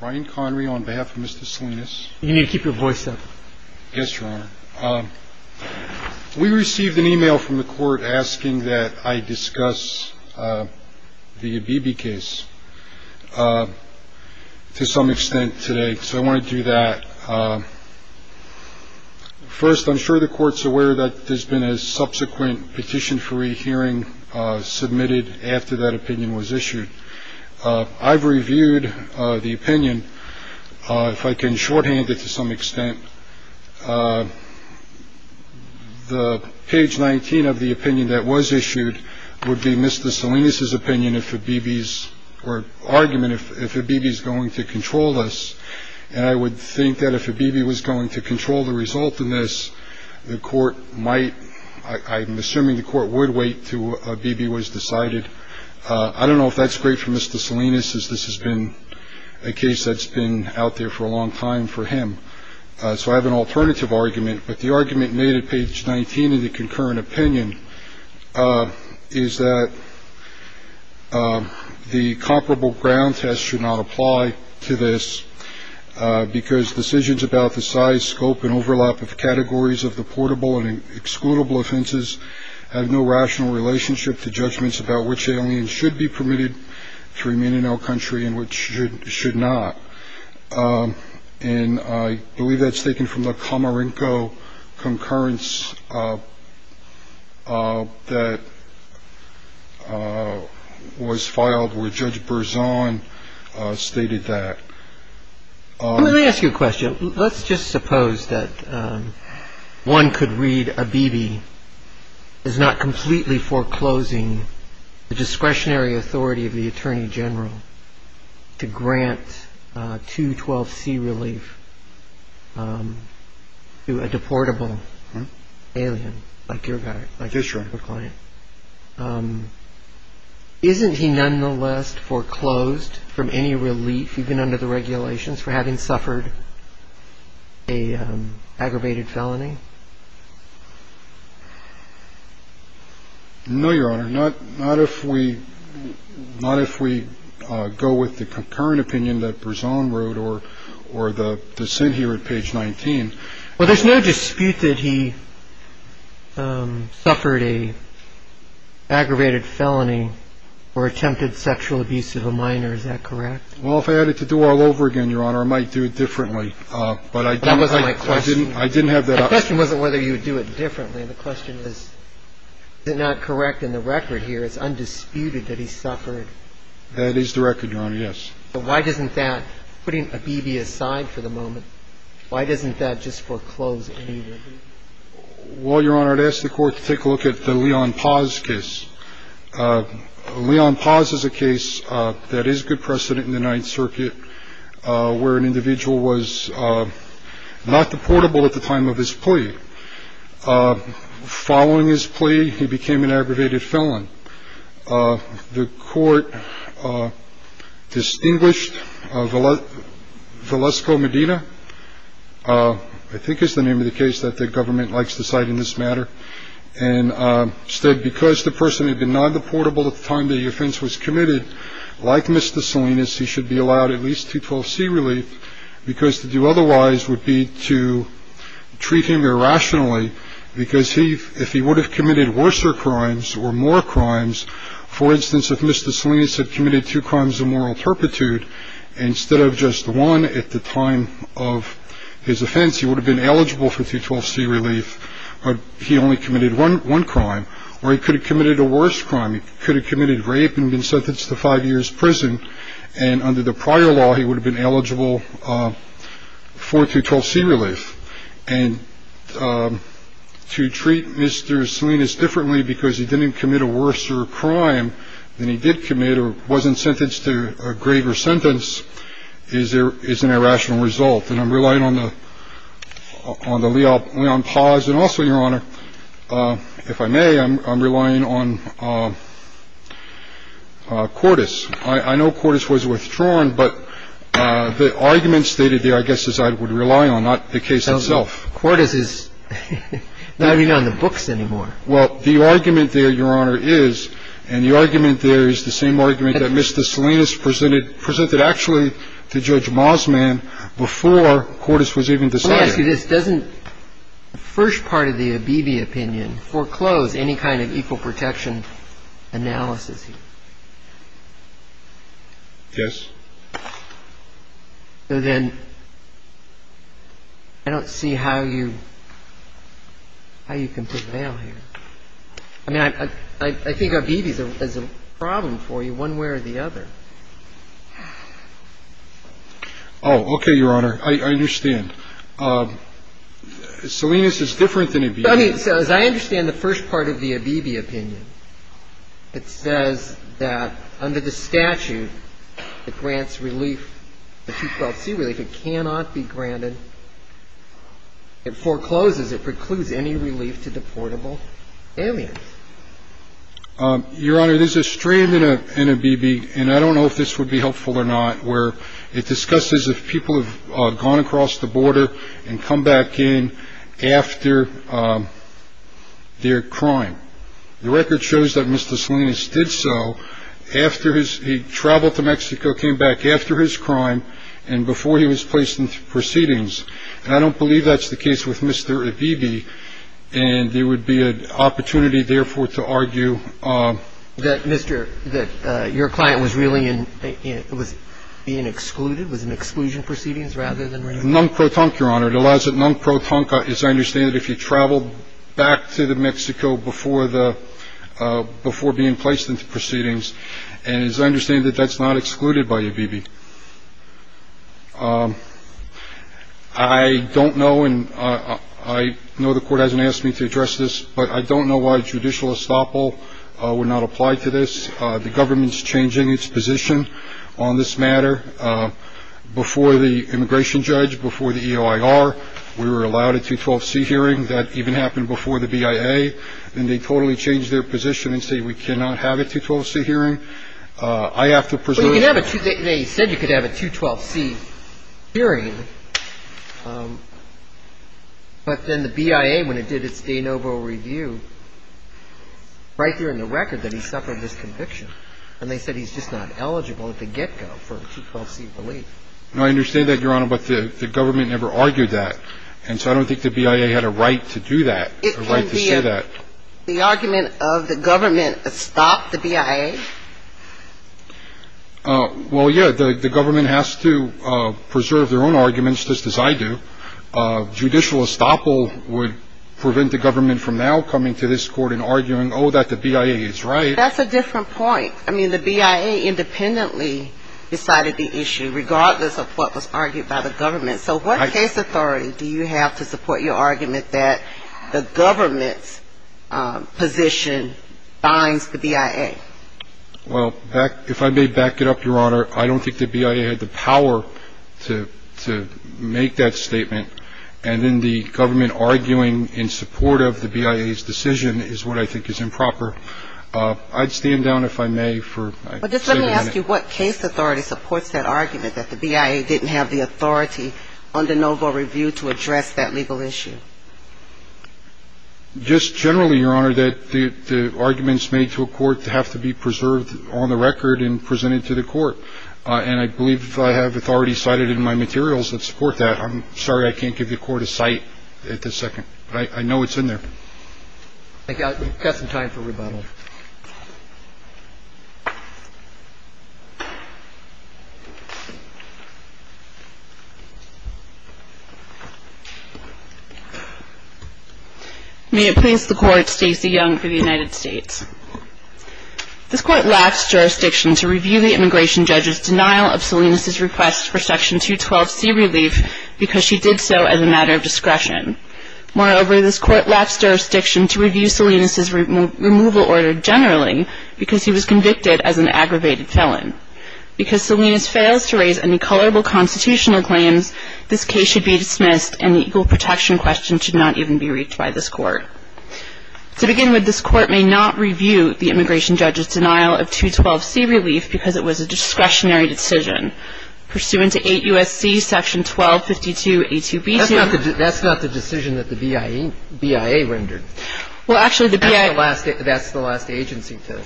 Brian Connery on behalf of Mr. Salinas. You need to keep your voice up. Yes, Your Honor. We received an email from the court asking that I discuss the Abebe case to some extent today, so I want to do that. First, I'm sure the court's aware that there's been a subsequent petition for re-hearing submitted after that opinion was issued. I've reviewed the opinion. If I can shorthand it to some extent, the page 19 of the opinion that was issued would be Mr. Salinas' opinion if Abebe's or argument if Abebe is going to control us. And I would think that if Abebe was going to control the result in this, the court might. I'm assuming the court would wait to Abebe was decided. I don't know if that's great for Mr. Salinas, as this has been a case that's been out there for a long time for him. So I have an alternative argument. But the argument made at page 19 of the concurrent opinion is that the comparable ground test should not apply to this because decisions about the size, scope and overlap of categories of the excludable offenses have no rational relationship to judgments about which aliens should be permitted to remain in our country and which should not. And I believe that's taken from the Comorinco concurrence that was filed where Judge Abebe is not completely foreclosing the discretionary authority of the attorney general to grant 212C relief to a deportable alien like your client. Isn't he nonetheless foreclosed from any relief, even under the regulations, for having suffered an aggravated felony? No, Your Honor. Not if we go with the concurrent opinion that Berzon wrote or the sent here at page 19. Well, there's no dispute that he suffered a aggravated felony or attempted sexual abuse of a minor. Is that correct? Well, if I had to do all over again, Your Honor, I might do it differently. But I didn't have that option. The question wasn't whether you would do it differently. The question is, is it not correct in the record here, it's undisputed that he suffered? That is the record, Your Honor, yes. So why doesn't that, putting Abebe aside for the moment, why doesn't that just foreclose any relief? Well, Your Honor, I'd ask the court to take a look at the Leon Paz case. Leon Paz is a case that is good precedent in the Ninth Circuit where an individual was not deportable at the time of his plea. Following his plea, he became an aggravated felon. The court distinguished Valesco Medina. I think is the name of the case that the government likes to cite in this matter. And said because the person had been not deportable at the time the offense was committed, like Mr. Salinas, he should be allowed at least 212C relief, because to do otherwise would be to treat him irrationally, because if he would have committed worse crimes or more crimes, for instance, if Mr. Salinas had committed two crimes of moral turpitude instead of just one at the time of his offense, he would have been eligible for 212C relief, but he only committed one crime. Or he could have committed a worse crime. He could have committed rape and been sentenced to five years prison. And under the prior law, he would have been eligible for 212C relief. And to treat Mr. Salinas differently because he didn't commit a worse crime than he did commit or wasn't sentenced to a greater sentence is an irrational result. And I'm relying on the Leon Paz and also, Your Honor, if I may, I'm relying on Cordis. I know Cordis was withdrawn, but the argument stated there, I guess, is I would rely on, not the case itself. Cordis is not even on the books anymore. Well, the argument there, Your Honor, is, and the argument there is the same argument that Mr. Salinas presented, he presented actually to Judge Mossman before Cordis was even decided. Let me ask you this. Doesn't the first part of the Abebe opinion foreclose any kind of equal protection analysis? Yes. So then I don't see how you can prevail here. I mean, I think Abebe is a problem for you one way or the other. Oh, okay, Your Honor. I understand. Salinas is different than Abebe. I mean, so as I understand the first part of the Abebe opinion, it says that under the statute, it grants relief, the 212C relief. It cannot be granted. It forecloses. It precludes any relief to deportable aliens. Your Honor, there's a strand in Abebe, and I don't know if this would be helpful or not, where it discusses if people have gone across the border and come back in after their crime. The record shows that Mr. Salinas did so after he traveled to Mexico, came back after his crime and before he was placed in proceedings. And I don't believe that's the case with Mr. Abebe. And there would be an opportunity, therefore, to argue. That, Mr. — that your client was really in — was being excluded, was in exclusion proceedings rather than relief? Nunc protunque, Your Honor. It allows — nunc protunque, as I understand it, if you traveled back to Mexico before the — before being placed into proceedings. And as I understand it, that's not excluded by Abebe. I don't know, and I know the Court hasn't asked me to address this, but I don't know why judicial estoppel would not apply to this. The government's changing its position on this matter. Before the immigration judge, before the EOIR, we were allowed a 212C hearing. That even happened before the BIA. And they totally changed their position and say we cannot have a 212C hearing. I have to presume — Well, they said you could have a 212C hearing, but then the BIA, when it did its de novo review, right there in the record that he suffered this conviction. And they said he's just not eligible at the get-go for a 212C relief. No, I understand that, Your Honor, but the government never argued that. And so I don't think the BIA had a right to do that, a right to say that. It can be a — the argument of the government stopped the BIA? Well, yeah, the government has to preserve their own arguments, just as I do. Judicial estoppel would prevent the government from now coming to this Court and arguing, oh, that the BIA is right. That's a different point. I mean, the BIA independently decided the issue, regardless of what was argued by the government. So what case authority do you have to support your argument that the government's position binds the BIA? Well, if I may back it up, Your Honor, I don't think the BIA had the power to make that statement. And then the government arguing in support of the BIA's decision is what I think is improper. I'd stand down, if I may, for a minute. Well, just let me ask you what case authority supports that argument, that the BIA didn't have the authority under novo review to address that legal issue? Just generally, Your Honor, that the arguments made to a court have to be preserved on the record and presented to the court. And I believe I have authority cited in my materials that support that. I'm sorry I can't give the court a cite at this second, but I know it's in there. I've got some time for rebuttal. May it please the Court, Stacey Young for the United States. This Court lapsed jurisdiction to review the immigration judge's denial of Salinas' request for Section 212C relief because she did so as a matter of discretion. Moreover, this Court lapsed jurisdiction to review Salinas' removal order generally because he was convicted as an aggravated felon. Because Salinas fails to raise any colorable constitutional claims, this case should be dismissed and the equal protection question should not even be reached by this Court. To begin with, this Court may not review the immigration judge's denial of 212C relief because it was a discretionary decision. This Court may not review the immigration judge's denial of Salinas' removal order because it was a discretionary decision. Pursuant to 8 U.S.C. Section 1252A2B2. That's not the decision that the BIA rendered. Well, actually, the BIA. That's the last agency to.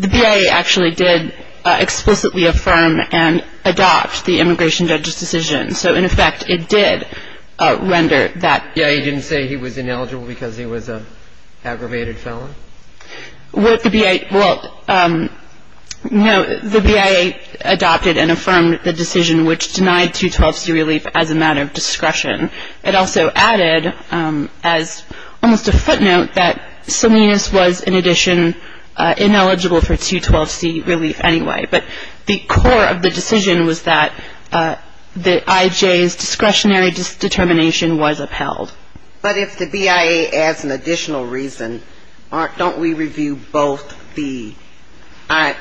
The BIA actually did explicitly affirm and adopt the immigration judge's decision. So, in effect, it did render that. The BIA didn't say he was ineligible because he was an aggravated felon? Well, the BIA. Well, no. The BIA adopted and affirmed the decision which denied 212C relief as a matter of discretion. It also added as almost a footnote that Salinas was, in addition, ineligible for 212C relief anyway. But the core of the decision was that the IJ's discretionary determination was upheld. But if the BIA adds an additional reason, don't we review both the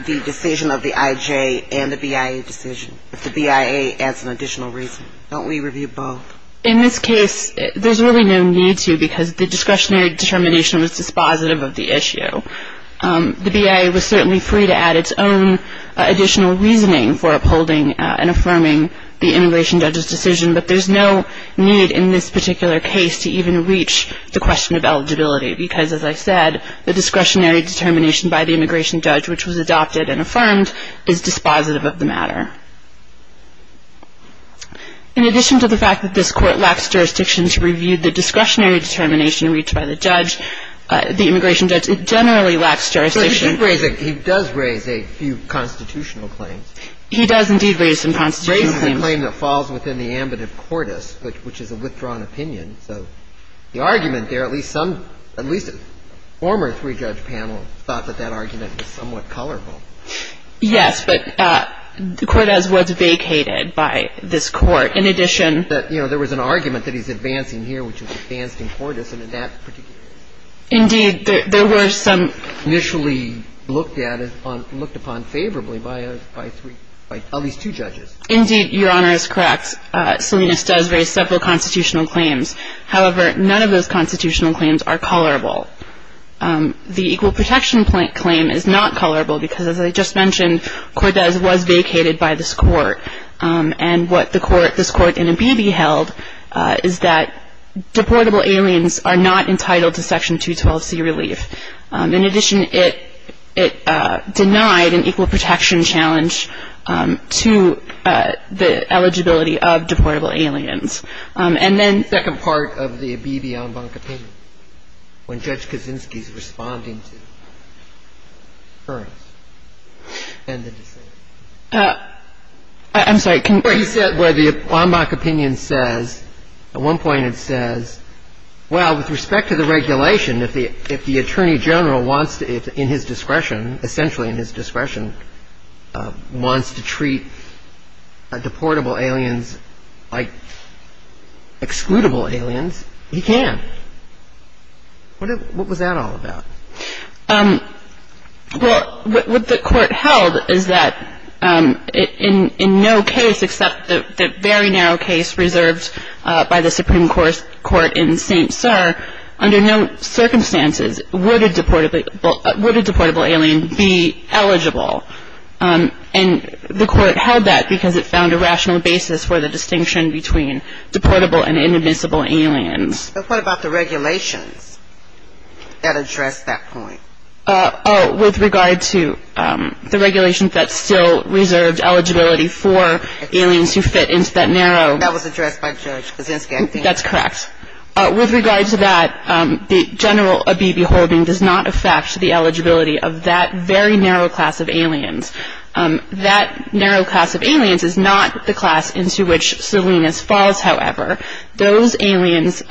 decision of the IJ and the BIA decision? If the BIA adds an additional reason, don't we review both? In this case, there's really no need to because the discretionary determination was dispositive of the issue. The BIA was certainly free to add its own additional reasoning for upholding and affirming the immigration judge's decision, but there's no need in this particular case to even reach the question of eligibility because, as I said, the discretionary determination by the immigration judge, which was adopted and affirmed, is dispositive of the matter. In addition to the fact that this Court lacks jurisdiction to review the discretionary determination reached by the judge, the immigration judge generally lacks jurisdiction. So he does raise a few constitutional claims. He does indeed raise some constitutional claims. He raises a claim that falls within the ambit of Cordes, which is a withdrawn opinion. So the argument there, at least some, at least a former three-judge panel thought that that argument was somewhat colorful. Yes, but Cordes was vacated by this Court. In addition to that, you know, there was an argument that he's advancing here, which is advancing Cordes, and in that particular case. Indeed, there were some. Initially looked at, looked upon favorably by at least two judges. Indeed, Your Honor, is correct. Salinas does raise several constitutional claims. However, none of those constitutional claims are colorable. The equal protection claim is not colorable because, as I just mentioned, Cordes was vacated by this Court. And what the Court, this Court in Abebe held is that deportable aliens are not entitled to Section 212C relief. In addition, it denied an equal protection challenge to the eligibility of deportable aliens. And then the second part of the Abebe en banc opinion, when Judge Kaczynski is responding to the occurrence and the decision. I'm sorry. He said where the en banc opinion says, at one point it says, well, with respect to the regulation, if the Attorney General wants to, in his discretion, essentially in his discretion, wants to treat deportable aliens like excludable aliens, he can. What was that all about? Well, what the Court held is that in no case except the very narrow case reserved by the Supreme Court in St. Sir, under no circumstances would a deportable alien be eligible. And the Court held that because it found a rational basis for the distinction between deportable and inadmissible aliens. But what about the regulations that address that point? Oh, with regard to the regulations that still reserved eligibility for aliens who fit into that narrow. That was addressed by Judge Kaczynski, I think. That's correct. With regard to that, the general Abebe holding does not affect the eligibility of that very narrow class of aliens. That narrow class of aliens is not the class into which Salinas falls, however. Those aliens,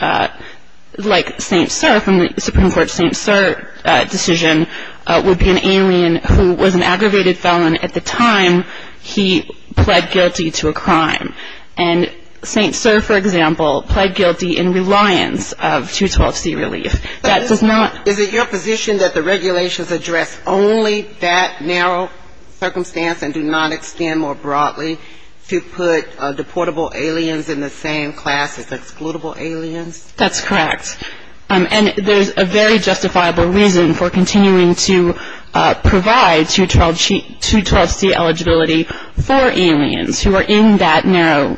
like St. Sir, from the Supreme Court's St. Sir decision, would be an alien who was an aggravated felon at the time he pled guilty to a crime. And St. Sir, for example, pled guilty in reliance of 212C relief. That does not. Is it your position that the regulations address only that narrow circumstance and do not extend more broadly to put deportable aliens in the same class as excludable aliens? That's correct. And there's a very justifiable reason for continuing to provide 212C eligibility for aliens who are in that narrow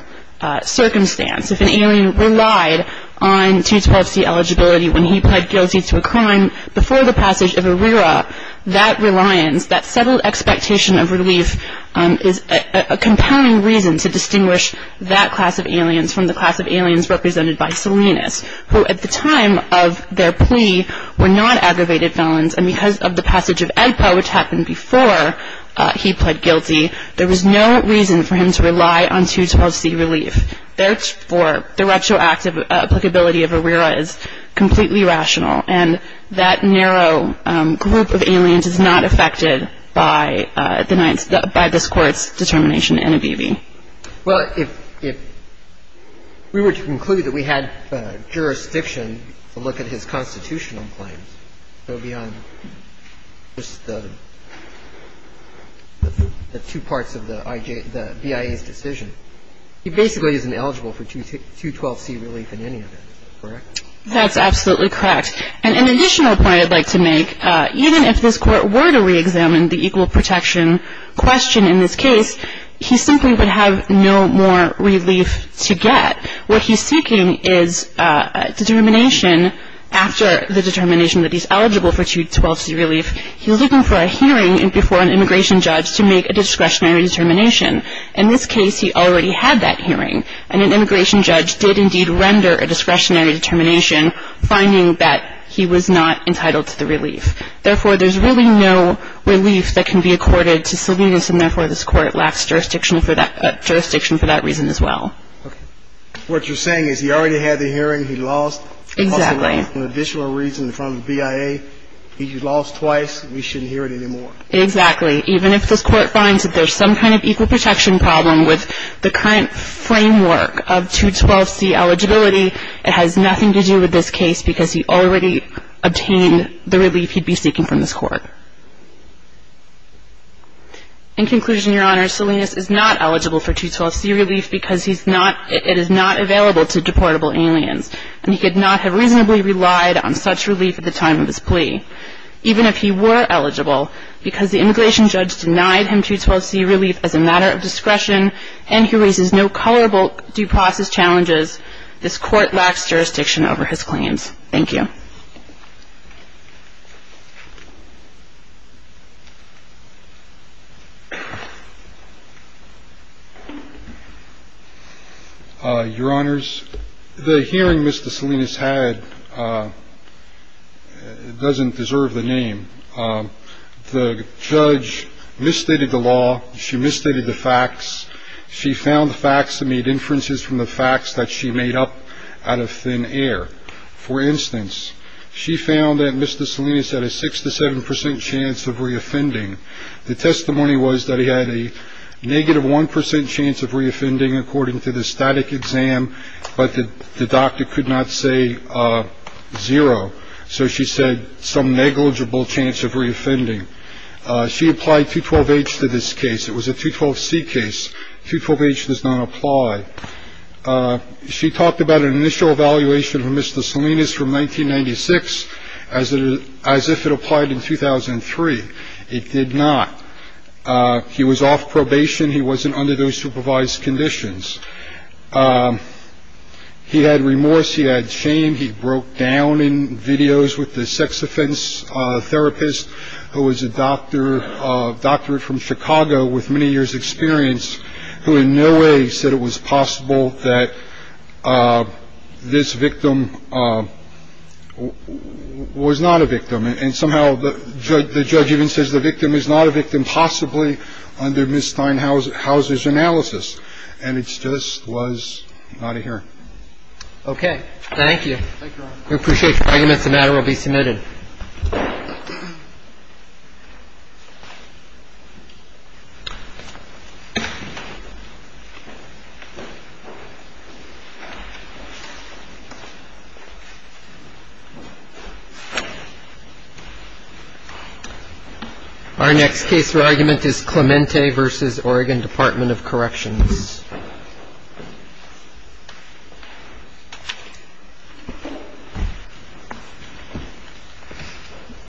circumstance. If an alien relied on 212C eligibility when he pled guilty to a crime before the passage of ARERA, that reliance, that settled expectation of relief, is a compounding reason to distinguish that class of aliens from the class of aliens represented by Salinas, who at the time of their plea were not aggravated felons. And because of the passage of AEPA, which happened before he pled guilty, there was no reason for him to rely on 212C relief. Therefore, the retroactive applicability of ARERA is completely rational. And that narrow group of aliens is not affected by the Ninth — by this Court's determination in NABBV. Well, if we were to conclude that we had jurisdiction to look at his constitutional claims, so beyond just the two parts of the BIA's decision, he basically isn't eligible for 212C relief in any of it, correct? That's absolutely correct. And an additional point I'd like to make, even if this Court were to reexamine the equal protection question in this case, he simply would have no more relief to get. What he's seeking is determination after the determination that he's eligible for 212C relief. He's looking for a hearing before an immigration judge to make a discretionary determination. In this case, he already had that hearing. And an immigration judge did indeed render a discretionary determination, finding that he was not entitled to the relief. Therefore, there's really no relief that can be accorded to Sylvanus, and therefore this Court lacks jurisdiction for that — jurisdiction for that reason as well. Okay. What you're saying is he already had the hearing. He lost. Exactly. For an additional reason in front of the BIA, he lost twice. We shouldn't hear it anymore. Exactly. Even if this Court finds that there's some kind of equal protection problem with the current framework of 212C eligibility, it has nothing to do with this case because he already obtained the relief he'd be seeking from this Court. In conclusion, Your Honor, Sylvanus is not eligible for 212C relief because he's not — it is not available to deportable aliens. And he could not have reasonably relied on such relief at the time of his plea. Even if he were eligible, because the immigration judge denied him 212C relief as a matter of discretion and he raises no colorable due process challenges, this Court lacks jurisdiction over his claims. Thank you. Your Honor, the hearing Mr. Sylvanus had doesn't deserve the name. The judge misstated the law. She misstated the facts. She found facts that made inferences from the facts that she made up out of thin air. For instance, she found that Mr. Sylvanus had a 6 to 7 percent chance of reoffending. The testimony was that he had a negative 1 percent chance of reoffending, according to the static exam. But the doctor could not say zero. So she said some negligible chance of reoffending. She applied 212H to this case. It was a 212C case. 212H does not apply. She talked about an initial evaluation for Mr. Sylvanus from 1996 as if it applied in 2003. It did not. He was off probation. He wasn't under those supervised conditions. He had remorse. He had shame. He broke down in videos with the sex offense therapist who was a doctor, a doctor from Chicago with many years' experience who in no way said it was possible that this victim was not a victim. And somehow the judge even says the victim is not a victim, possibly under Ms. Steinhauser's analysis. And it just was not a hearing. Okay. Thank you. We appreciate your arguments. The matter will be submitted. Our next case for argument is Clemente v. Oregon Department of Corrections. Thank you.